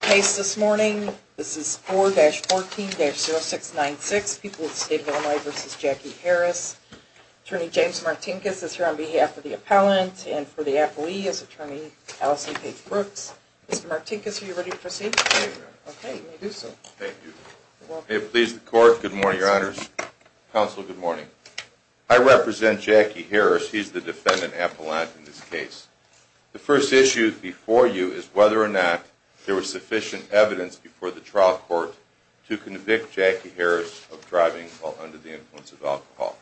case this morning. This is 4-14-0696, People of the State of Illinois v. Jackie Harris. Attorney James Martinkus is here on behalf of the appellant and for the appellee is Attorney Allison Page Brooks. Mr. Martinkus, are you ready to proceed? Okay, let me do so. Thank you. May it please the court. Good morning, your honors. Counsel, good morning. I represent Jackie Harris. He's the defendant appellant in this case. The first issue before you is whether there was sufficient evidence before the trial court to convict Jackie Harris of driving while under the influence of alcohol.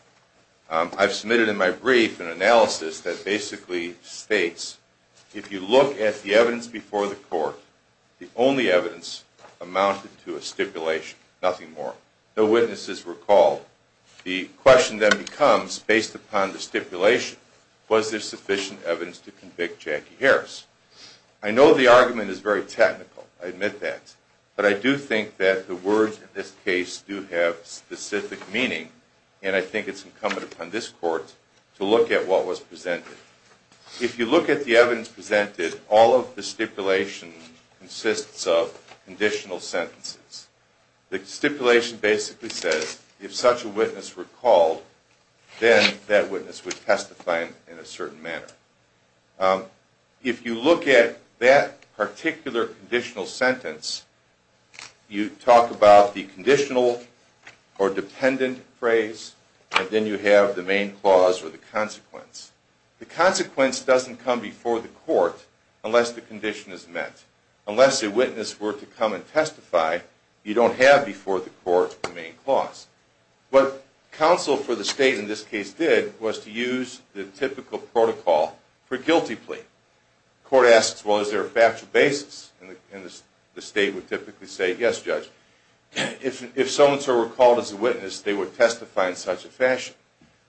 I've submitted in my brief an analysis that basically states, if you look at the evidence before the court, the only evidence amounted to a stipulation, nothing more. No witnesses were called. The question then becomes, based upon the stipulation, was there sufficient evidence to convict Jackie Harris? I know the argument is very technical, I admit that, but I do think that the words in this case do have specific meaning and I think it's incumbent upon this court to look at what was presented. If you look at the evidence presented, all of the stipulation consists of conditional sentences. The stipulation basically says, if such a witness were called, then that witness would testify in a certain manner. If you look at that particular conditional sentence, you talk about the conditional or dependent phrase and then you have the main clause or the consequence. The consequence doesn't come before the court unless the condition is met. Unless a witness were to come and testify, you don't have before the court the main clause. What counsel for the state in this case did was to use the typical protocol for a guilty plea. The court asks, well, is there a factual basis? The state would typically say, yes, judge. If someone were called as a witness, they would testify in such a fashion.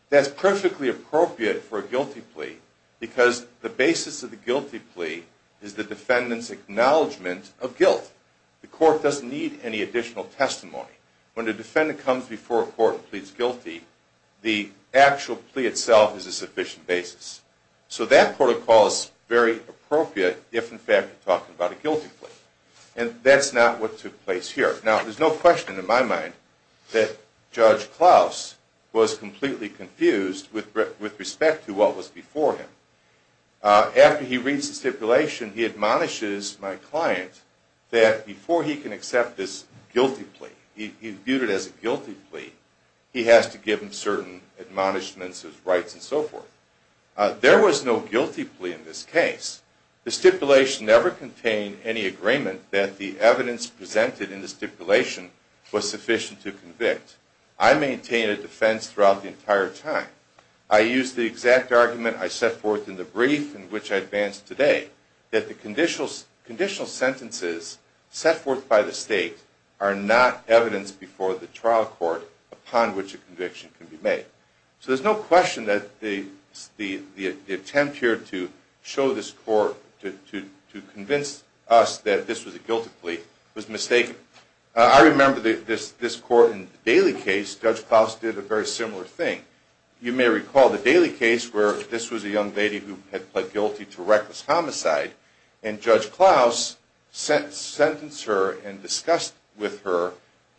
That's perfectly appropriate for a guilty plea because the basis of the guilty plea is the defendant's acknowledgement of guilt. The court doesn't need any additional testimony. When a defendant comes before a court and pleads guilty, the actual plea itself is a sufficient basis. So that protocol is very appropriate if, in fact, you're talking about a guilty plea. And that's not what took place here. Now, there's no question in my mind that Judge Klaus was completely confused with respect to what was before him. After he reads the stipulation, he admonishes my client that before he can accept this guilty plea, he viewed it as a guilty plea, he has to give him certain admonishments of rights and so forth. There was no guilty plea in this case. The stipulation never contained any agreement that the evidence presented in the stipulation was sufficient to convict. I maintained a defense throughout the entire time. I used the exact argument I set forth in the brief in which I advanced today, that the conditional sentences set forth by the state are not evidence before the trial court upon which a conviction can be made. So there's no question that the attempt here to show this court, to convince us that this was a guilty plea, was mistaken. I remember this court in the Daly case, Judge Klaus did a very similar thing. You may recall the Daly case where this was a young lady who had pled guilty to reckless homicide, and Judge Klaus sentenced her and discussed with her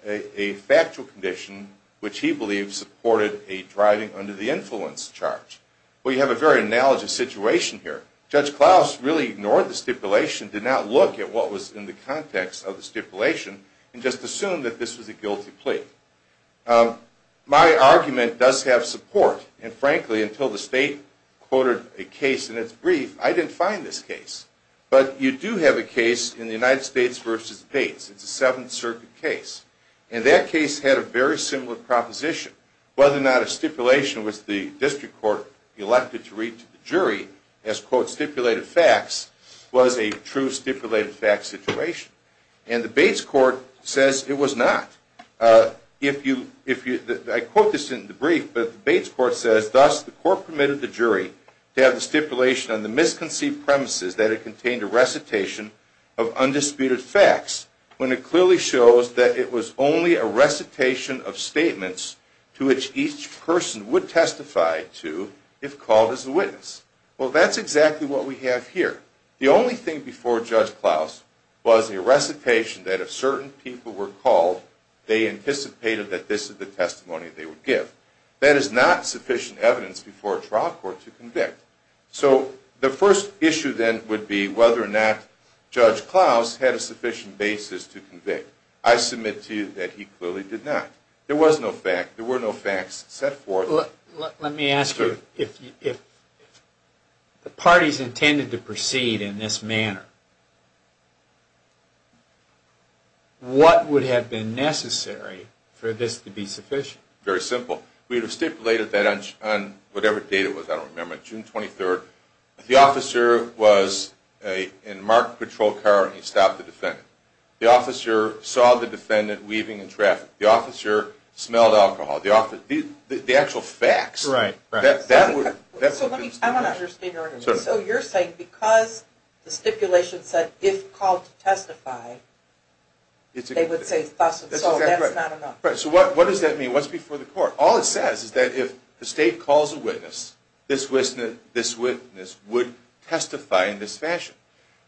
a factual condition which he believed supported a driving under the influence charge. We have a very analogous situation here. Judge Klaus really ignored the stipulation, did not look at what was in the context of the stipulation, and just assumed that this was a guilty plea. My argument does have support, and frankly, until the state quoted a case in its brief, I didn't find this case. But you do have a case in the United States v. Bates. It's a Seventh Circuit case, and that case had a very similar proposition. Whether or not a stipulation was the district court elected to read to the jury as, quote, stipulated facts, was a true stipulated facts situation. And the Bates court says it was not. I quote this in the brief, but the Bates court says, thus the court permitted the jury to have the stipulation on the misconceived premises that it contained a recitation of undisputed facts, when it clearly shows that it was only a recitation of statements to which each person would testify to if called as a witness. Well, that's exactly what we have here. The only thing before Judge Klaus was a recitation that if certain people were called, they anticipated that this is the testimony they would give. That is not sufficient evidence before a trial court to convict. So the first issue then would be whether or not Judge Klaus had a sufficient basis to convict. I submit to you that he clearly did not. There was no fact, there were Let me ask you, if the parties intended to proceed in this manner, what would have been necessary for this to be sufficient? Very simple. We would have stipulated that on whatever date it was, I don't remember, June 23rd. The officer was in a marked patrol car and he stopped the defendant. The officer saw the defendant weaving in traffic. The officer smelled alcohol. The actual facts, that's what the stipulation was. So you're saying because the stipulation said, if called to testify, they would say thus and so, that's not enough. Right. So what does that mean? What's before the court? All it says is that if the state calls a witness, this witness would testify in this fashion.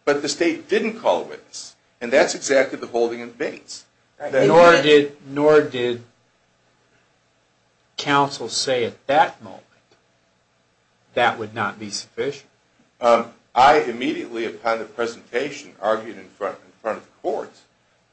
But the state didn't call a witness, and that's exactly the holding of the bates. Nor did counsel say at that moment, that would not be sufficient. I immediately, upon the presentation, argued in front of the court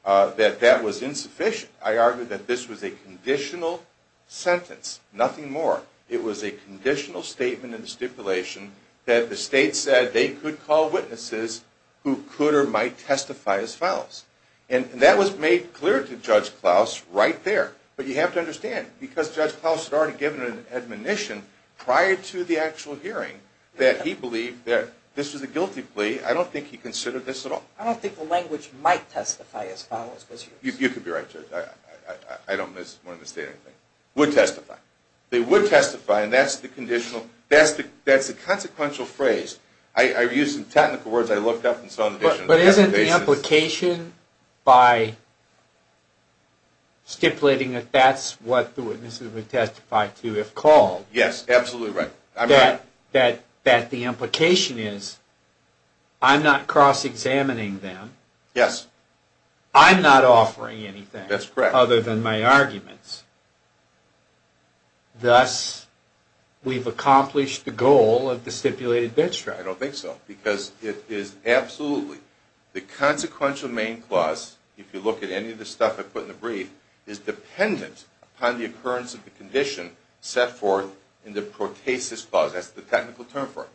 that that was insufficient. I argued that this was a conditional sentence, nothing more. It was a conditional statement in the stipulation that the state said that they could call witnesses who could or might testify as follows. And that was made clear to Judge Klaus right there. But you have to understand, because Judge Klaus had already given an admonition prior to the actual hearing that he believed that this was a guilty plea. I don't think he considered this at all. I don't think the language might testify as follows. You could be right, Judge. I don't want to misstate anything. They would testify. They would testify, and that's the conditional, that's the consequential phrase. I used some technical words, I looked up and saw the definition. But isn't the implication by stipulating that that's what the witnesses would testify to if called, that the implication is, I'm not cross-examining them, I'm not offering anything other than my arguments. Thus, we've accomplished the goal of the stipulated bench strike. I don't think so. Because it is absolutely, the consequential main clause, if you look at any of the stuff I put in the brief, is dependent upon the occurrence of the condition set forth in the protasis clause. That's the technical term for it.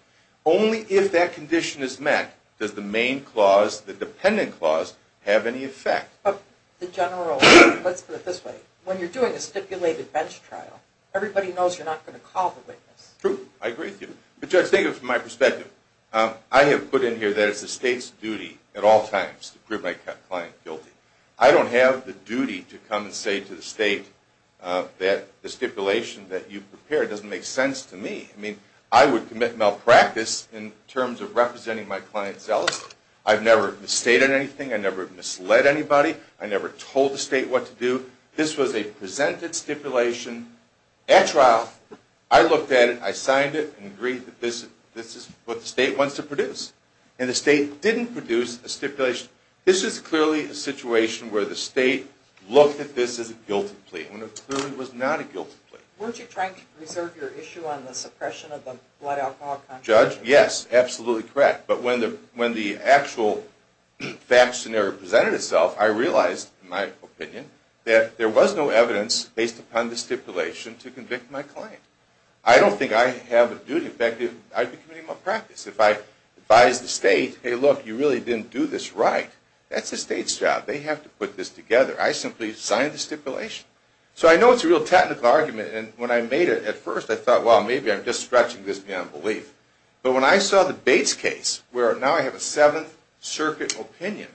Only if that condition is met does the main clause, the dependent clause, have any effect. But the general, let's put it this way, when you're doing a stipulated bench trial, everybody knows you're not going to call the witness. True, I agree with you. But Judge, think of it from my perspective. I have put in here that it's the state's duty at all times to prove my client guilty. I don't have the duty to come and say to the state that the stipulation that you've prepared doesn't make sense to me. I mean, I would commit malpractice in terms of representing my client's zealoty. I've never misstated anything, I've never misled anybody, I've never told the state what to do. This was a presented stipulation at trial. I looked at it, I signed it, and agreed that this is what the state wants to produce. And the state didn't produce a stipulation. This is clearly a situation where the state looked at this as a guilty plea. When it clearly was not a guilty plea. Weren't you trying to preserve your issue on the suppression of the blood alcohol contract? Judge, yes, absolutely correct. But when the actual fact scenario presented itself, I realized, in my opinion, that there was no evidence based upon the stipulation to convict my client. I don't think I have a duty. In fact, I'd be committing malpractice if I advised the state, hey look, you really didn't do this right. That's the state's job. They have to put this together. I simply signed the stipulation. So I know it's a real technical argument, and when I made it at first, I thought, well, maybe I'm just stretching this beyond belief. But when I saw the Bates case, where now I have a Seventh Circuit opinion,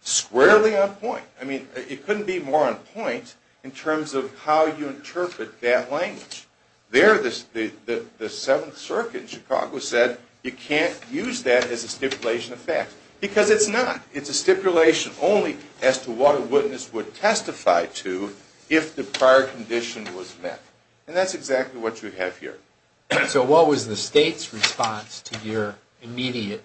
squarely on point. I mean, it couldn't be more on point in terms of how you interpret that language. There, the Seventh Circuit in Chicago said, you can't use that as a stipulation of fact. Because it's not. It's a stipulation only as to what a witness would testify to, if the prior condition was met. And that's exactly what you have here. So what was the state's response to your immediate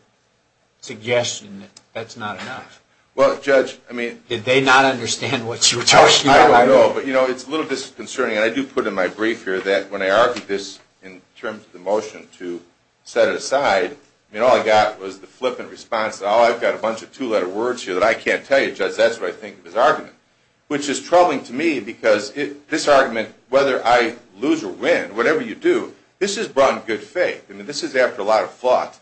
suggestion that that's not enough? Well, Judge, I mean... Did they not understand what you were talking about? I don't know, but it's a little disconcerting, and I do put in my brief here, that when I argued this in terms of the motion to set it aside, all I got was the flippant response, oh, I've got a bunch of two-letter words here that I can't tell you, Judge, that's what I think of his argument. Which is troubling to me, because this argument, whether I lose or win, whatever you do, this is brought in good faith. I mean, this is after a lot of thought.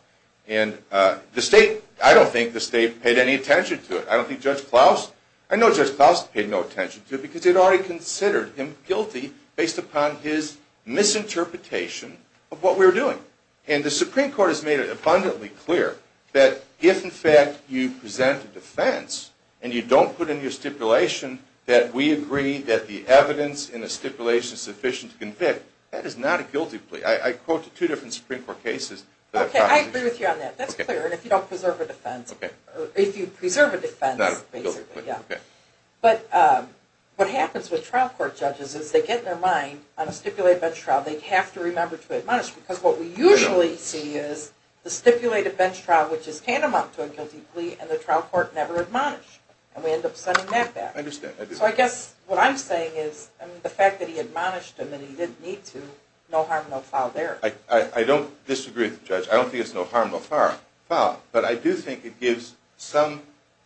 And the state, I don't think the state paid any attention to it. I don't think Judge Klaus, I know Judge Klaus paid no attention to it, because they'd already considered him guilty based upon his misinterpretation of what we were doing. And the Supreme Court has made it abundantly clear that if, in fact, you present a defense, and you don't put in your stipulation that we agree that the evidence in the stipulation is sufficient to convict, that is not a guilty plea. I quoted two different Supreme Court cases... Okay, I agree with you on that. That's clear, and if you don't preserve a defense... If you preserve a defense, basically, yeah. But what happens with trial court judges is they get their mind on a stipulated bench trial, they have to remember to admonish, because what we usually see is the stipulated bench trial which is tantamount to a guilty plea, and the trial court never admonished. And we end up sending that back. So I guess what I'm saying is, the fact that he admonished him and he didn't need to, no harm, no foul there. I don't disagree with the judge. I don't think it's no harm, no foul. But I do think it gives some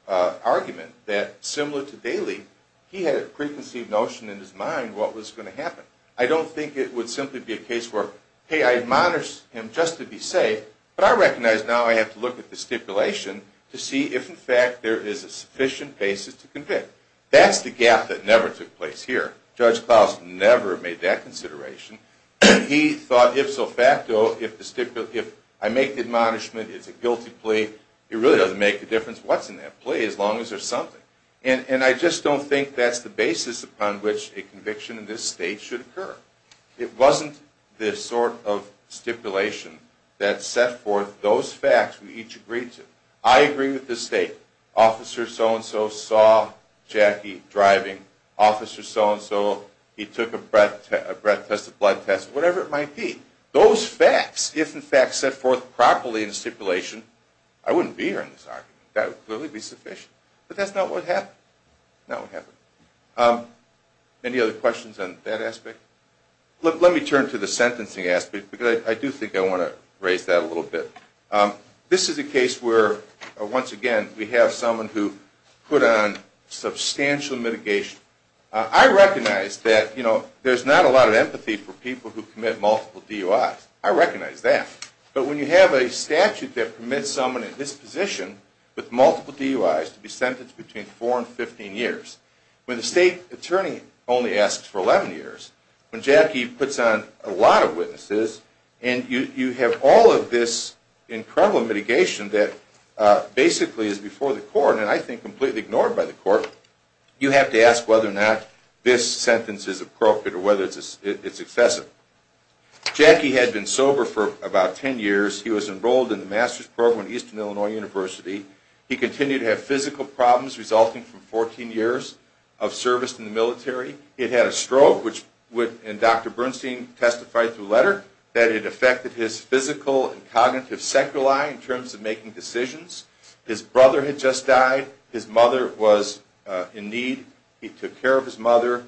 argument that, similar to Daley, he had a preconceived notion in his mind what was going to happen. I don't think it would simply be a case where, hey, I admonished him just to be safe, but I recognize now I have to look at the stipulation to see if, in fact, there is a sufficient basis to convict. That's the gap that never took place here. Judge Klaus never made that consideration. He thought, ifso facto, if I make the admonishment, it's a guilty plea, it really doesn't make a difference what's in that plea as long as there's something. And I just don't think that's the basis upon which a conviction in this state should occur. It wasn't the sort of stipulation that set forth those facts we each agreed to. I agree with this state. Officer so-and-so saw Jackie driving. Officer so-and-so, he took a breath test, a blood test, whatever it might be. Those facts, if in fact set forth properly in the stipulation, I wouldn't be here in this argument. That would clearly be sufficient. But that's not what happened. Not what happened. Any other questions on that aspect? Let me turn to the sentencing aspect because I do think I want to raise that a little bit. This is a case where, once again, we have someone who put on substantial mitigation. I recognize that there's not a lot of empathy for people who commit multiple DUIs. I recognize that. But when you have a statute that permits someone in this position with multiple DUIs to be sentenced between 4 and 15 years, when the state attorney only asks for 11 years, when Jackie puts on a lot of witnesses and you have all of this incredible mitigation that basically is before the court and I think completely ignored by the court, you have to ask whether or not this sentence is appropriate or whether it's excessive. Jackie had been sober for about 10 years. He was enrolled in the master's program at Eastern Illinois University. He continued to have physical problems resulting from 14 years of service in the military. He'd had a stroke, and Dr. Bernstein testified through a letter that it affected his physical and cognitive sacral eye in terms of making decisions. His brother had just died. His mother was in need. He took care of his mother.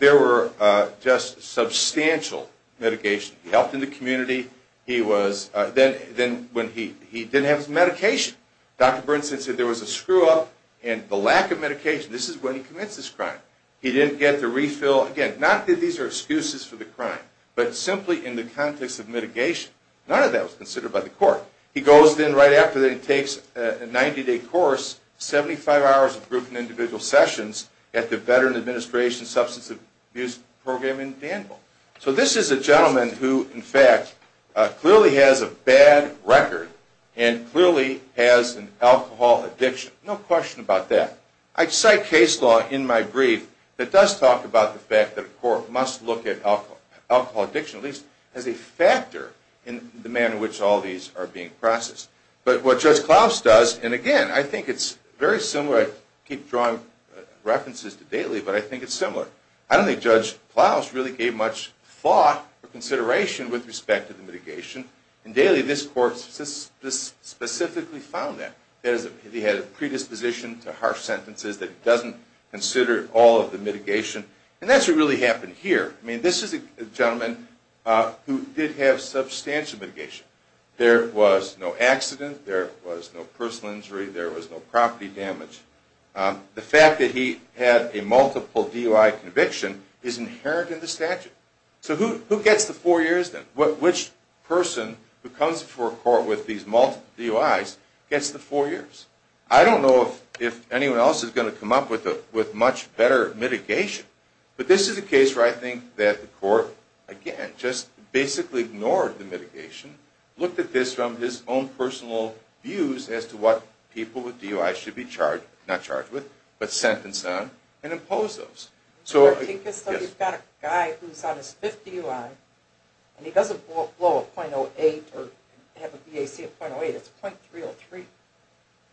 There were just substantial mitigations. He helped in the community. Then he didn't have his medication. Dr. Bernstein said there was a screw-up and the lack of medication. This is when he commits this crime. He didn't get the refill. Again, not that these are excuses for the crime, but simply in the context of mitigation. None of that was considered by the court. He goes then right after that and takes a 90-day course, 75 hours of group and individual sessions at the Veteran Administration Substance Abuse Program in Danville. So this is a gentleman who, in fact, clearly has a bad record and clearly has an alcohol addiction. No question about that. I cite case law in my brief that does talk about the fact that a court must look at alcohol addiction, at least as a factor in the manner in which all these are being processed. But what Judge Klaus does, and again, I think it's very similar. I keep drawing references to Daly, but I think it's similar. I don't think Judge Klaus really gave much thought or consideration with respect to the mitigation. In Daly, this court specifically found that. He had a predisposition to harsh sentences that he doesn't consider all of the mitigation. And that's what really happened here. This is a gentleman who did have substantial mitigation. There was no accident. There was no personal injury. There was no property damage. The fact that he had a multiple DUI conviction is inherent in the statute. So who gets the 4 years then? Which person who comes before a court with these multiple DUIs gets the 4 years? I don't know if anyone else is going to come up with much better mitigation. But this is a case where I think that the court, again, just basically ignored the mitigation, looked at this from his own personal views as to what people with DUIs should be charged not charged with, but sentenced on and imposed those. You've got a guy who's on his 5th DUI and he doesn't blow a .08 or have a BAC of .08 it's .303.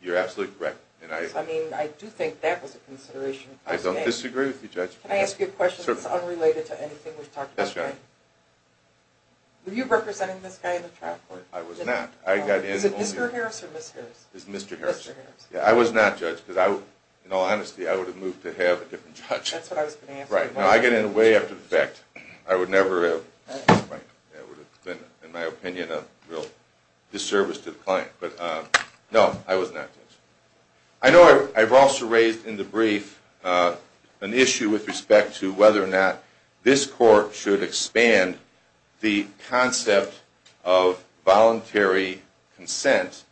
You're absolutely correct. I do think that was a consideration. I don't disagree with you, Judge. Can I ask you a question that's unrelated to anything we've talked about today? Were you representing this guy in the trial court? I was not. Is it Mr. Harris or Ms. Harris? It's Mr. Harris. I was not, Judge, because in all honesty I would have moved to have a different judge. I get in way after the fact. I would never have. It would have been, in my opinion, a real disservice to the client. No, I was not, Judge. I know I've also raised in the brief an issue with respect to whether or not this court should expand the concept of voluntary consent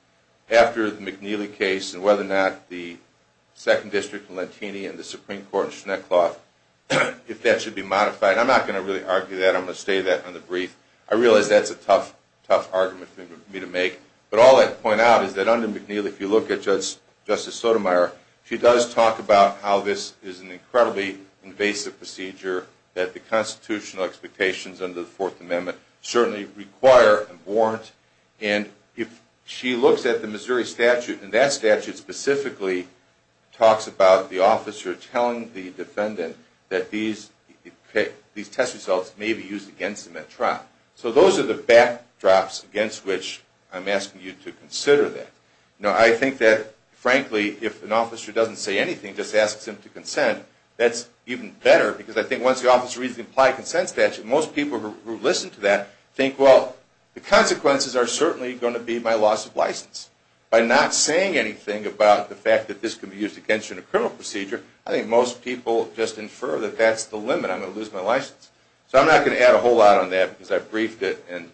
after the McNeely case and whether or not the 2nd District in Lentini and the Supreme Court in Schneckloff if that should be modified. I'm not going to really argue that. I'm going to state that in the brief. I realize that's a tough argument for me to make. But all I'd point out is that under McNeely if you look at Justice Sotomayor she does talk about how this is an incredibly invasive procedure that the constitutional expectations under the 4th Amendment certainly require and warrant. And if she looks at the Missouri statute and that statute specifically talks about the officer telling the defendant that these test results may be used against him at trial. So those are the backdrops against which I'm asking you to consider that. Now I think that frankly if an officer doesn't say anything just asks him to consent that's even better because I think once the officer reads the implied consent statute most people who listen to that think well the consequences are certainly going to be my loss of license. By not saying anything about the fact that this can be used against you in a criminal procedure I think most people just infer that that's the limit. I'm going to lose my license. So I'm not going to add a whole lot on that because I've briefed it and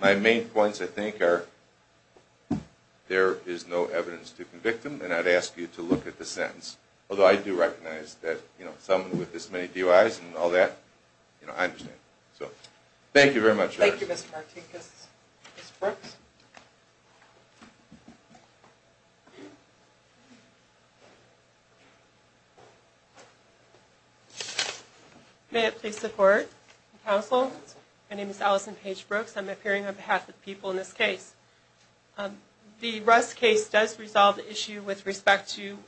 my main points I think are there is no evidence to convict him and I'd ask you to look at the sentence. Although I do recognize that someone with this many DUIs and all that, I understand. Thank you very much. Thank you Mr. Martinkus. May it please the court and counsel my name is Allison Paige Brooks I'm appearing on behalf of the people in this case. The Russ case does resolve the issue with respect to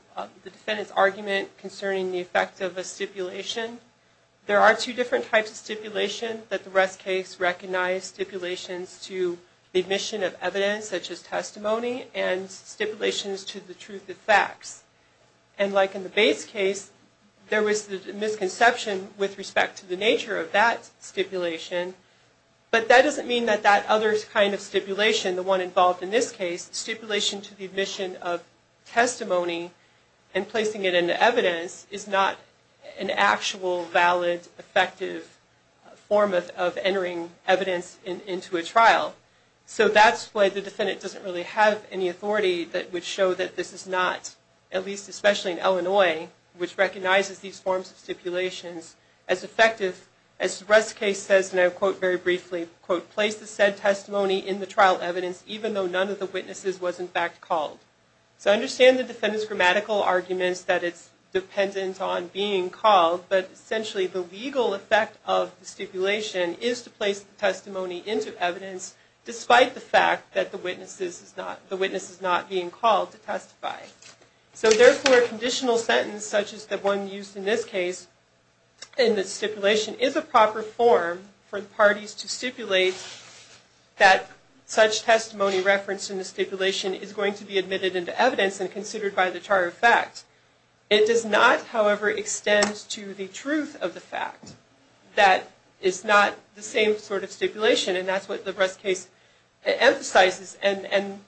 the defendant's argument concerning the effect of a stipulation. There are two different types of stipulation that the Russ case recognized stipulations to the admission of evidence such as testimony and stipulations to the truth of facts. And like in the Bates case, there was a misconception with respect to the nature of that stipulation but that doesn't mean that that other kind of stipulation, the one involved in this case, stipulation to the admission of testimony and placing it in evidence is not an actual valid effective form of entering evidence into a trial. So that's why the defendant doesn't really have any authority that would show that this is not at least especially in Illinois which recognizes these forms of stipulations as effective as the Russ case says, and I'll quote very briefly, quote, place the said testimony in the trial evidence even though none of the witnesses was in fact called. So understand the defendant's grammatical arguments that it's dependent on being called but essentially the legal effect of the stipulation is to place the testimony into evidence despite the fact that the witness is not being called to testify. So therefore a conditional sentence such as the one used in this case in the stipulation is a proper form for the parties to stipulate that such testimony referenced in the stipulation is going to be admitted into evidence and considered by the charge of fact. It does not however extend to the truth of the fact that is not the same sort of stipulation and that's what the Russ case emphasizes and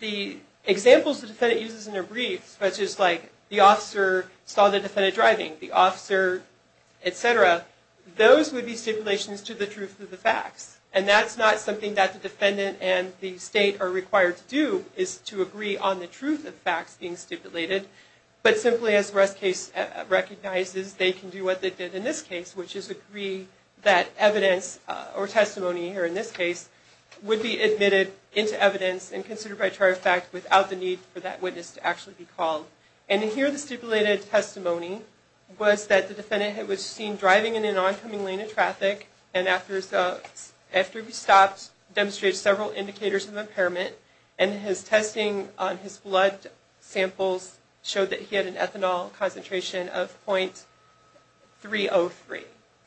the examples the defendant uses in their briefs such as like the officer saw the defendant driving, the officer etc. Those would be stipulations to the truth of the facts and that's not something that the defendant and the state are required to do is to agree on the truth of facts being stipulated but simply as the Russ case recognizes they can do what they did in this case which is agree that evidence or testimony here in this case would be admitted into evidence and considered by charge of fact without the need for that witness to actually be called and here the stipulated testimony was that the defendant was seen driving in an oncoming lane of traffic and after he stopped demonstrated several indicators of impairment and his testing on his blood samples showed that he had an ethanol concentration of .303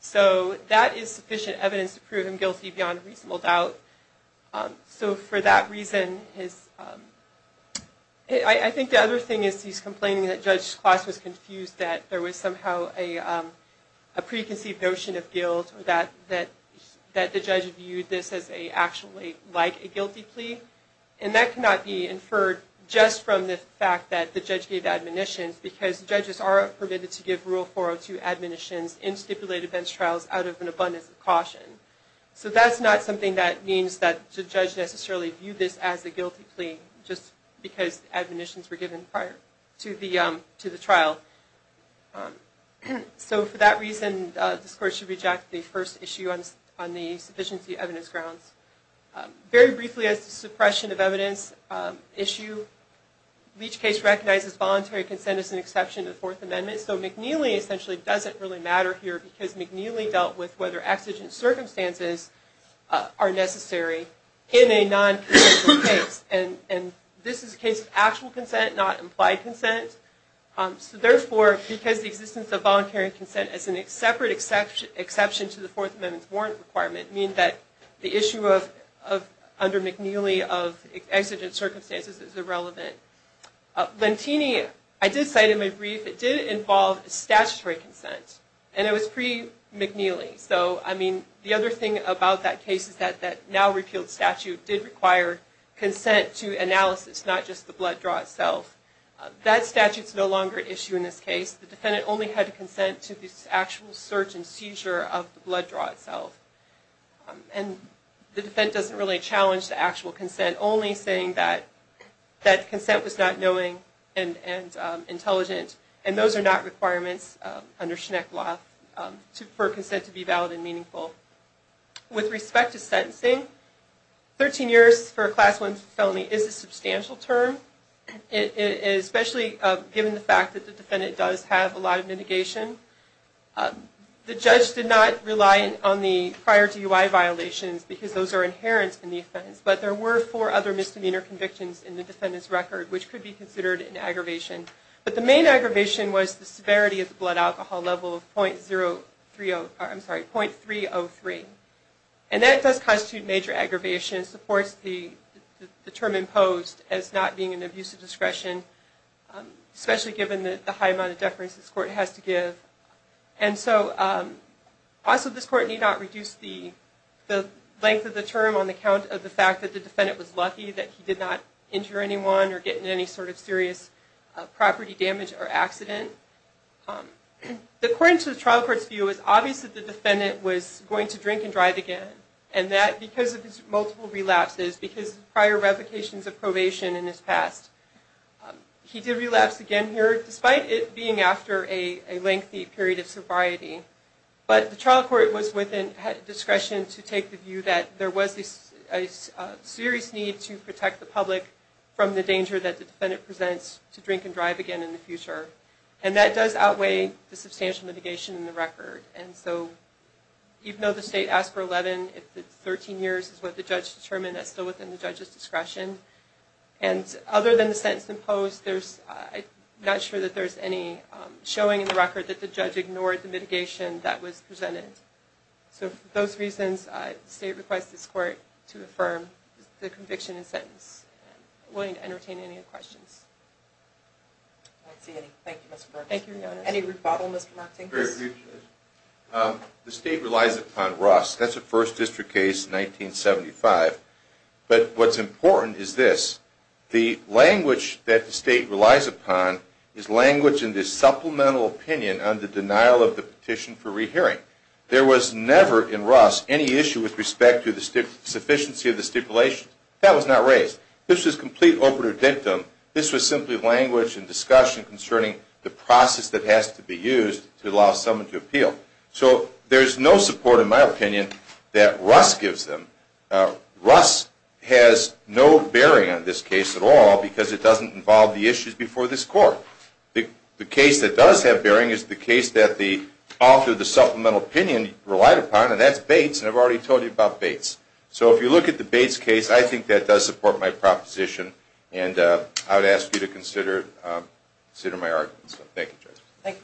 so that is sufficient evidence to prove him guilty beyond reasonable doubt so for that reason his I think the other thing is he's complaining that Judge Kloss was confused that there was somehow a preconceived notion of guilt that the judge viewed this as actually like a guilty plea and that cannot be inferred just from the fact that the judge gave admonitions because judges are permitted to give Rule 402 admonitions in stipulated bench trials out of an abundance of caution so that's not something that means that the judge necessarily viewed this as a guilty plea just because admonitions were given prior to the trial so for that reason this Court should reject the first issue on the sufficiency evidence grounds very briefly as to suppression of evidence issue Leach case recognizes voluntary consent as an exception to the Fourth Amendment so McNeely essentially doesn't really matter here because McNeely dealt with whether exigent circumstances are necessary in a non- consensual case and this is a case of actual consent not implied consent so therefore because the existence of voluntary consent as a separate exception to the Fourth Amendment's warrant requirement means that the issue under McNeely of exigent circumstances is irrelevant Lentini, I did cite in my brief, it did involve statutory consent and it was pre-McNeely so the other thing about that case is that that now repealed statute did require consent to analysis it's not just the blood draw itself that statute's no longer an issue in this case. The defendant only had to consent to the actual search and seizure of the blood draw itself and the defendant doesn't really challenge the actual consent only saying that consent was not knowing and intelligent and those are not requirements under Schneckloth for consent to be valid and meaningful With respect to sentencing 13 years for a class 1 felony is a substantial term especially given the fact that the defendant does have a lot of mitigation The judge did not rely on the prior to UI violations because those are inherent in the offense but there were four other misdemeanor convictions in the defendant's record which could be considered an aggravation but the main aggravation was the severity of the blood alcohol level of .303 and that does constitute a major aggravation and supports the term imposed as not being an abusive discretion especially given the high amount of deference this court has to give and so also this court need not reduce the length of the term on the count of the fact that the defendant was lucky that he did not injure anyone or get any sort of serious property damage or accident According to the trial court's view it was obvious that the defendant was going to drink and drive again and that because of his multiple relapses because prior revocations of probation in his past he did relapse again here despite it being after a lengthy period of sobriety but the trial court was within discretion to take the view that there was a serious need to protect the public from the danger that in the future and that does outweigh the substantial mitigation in the record and so even though the state asked for 11 if 13 years is what the judge determined that's still within the judge's discretion and other than the sentence imposed I'm not sure that there's any showing in the record that the judge ignored the mitigation that was presented so for those reasons the state requests this court to affirm the conviction and sentence I'm willing to entertain any questions Thank you Thank you The state relies upon Ross, that's a first district case 1975 but what's important is this the language that the state relies upon is language in the supplemental opinion on the denial of the petition for rehearing there was never in Ross any issue with respect to the sufficiency of the stipulation, that was not raised this was complete over-redemptive this was simply language and discussion concerning the process that has to be so there's no support in my opinion that Ross gives them. Ross has no bearing on this case at all because it doesn't involve the issues before this court the case that does have bearing is the case that the author of the supplemental opinion relied upon and that's Bates and I've already told you about Bates so if you look at the Bates case I think that does support my proposition and I would ask you to consider my arguments thank you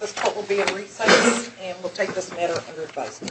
this court will be in recess and we'll take this matter under advisory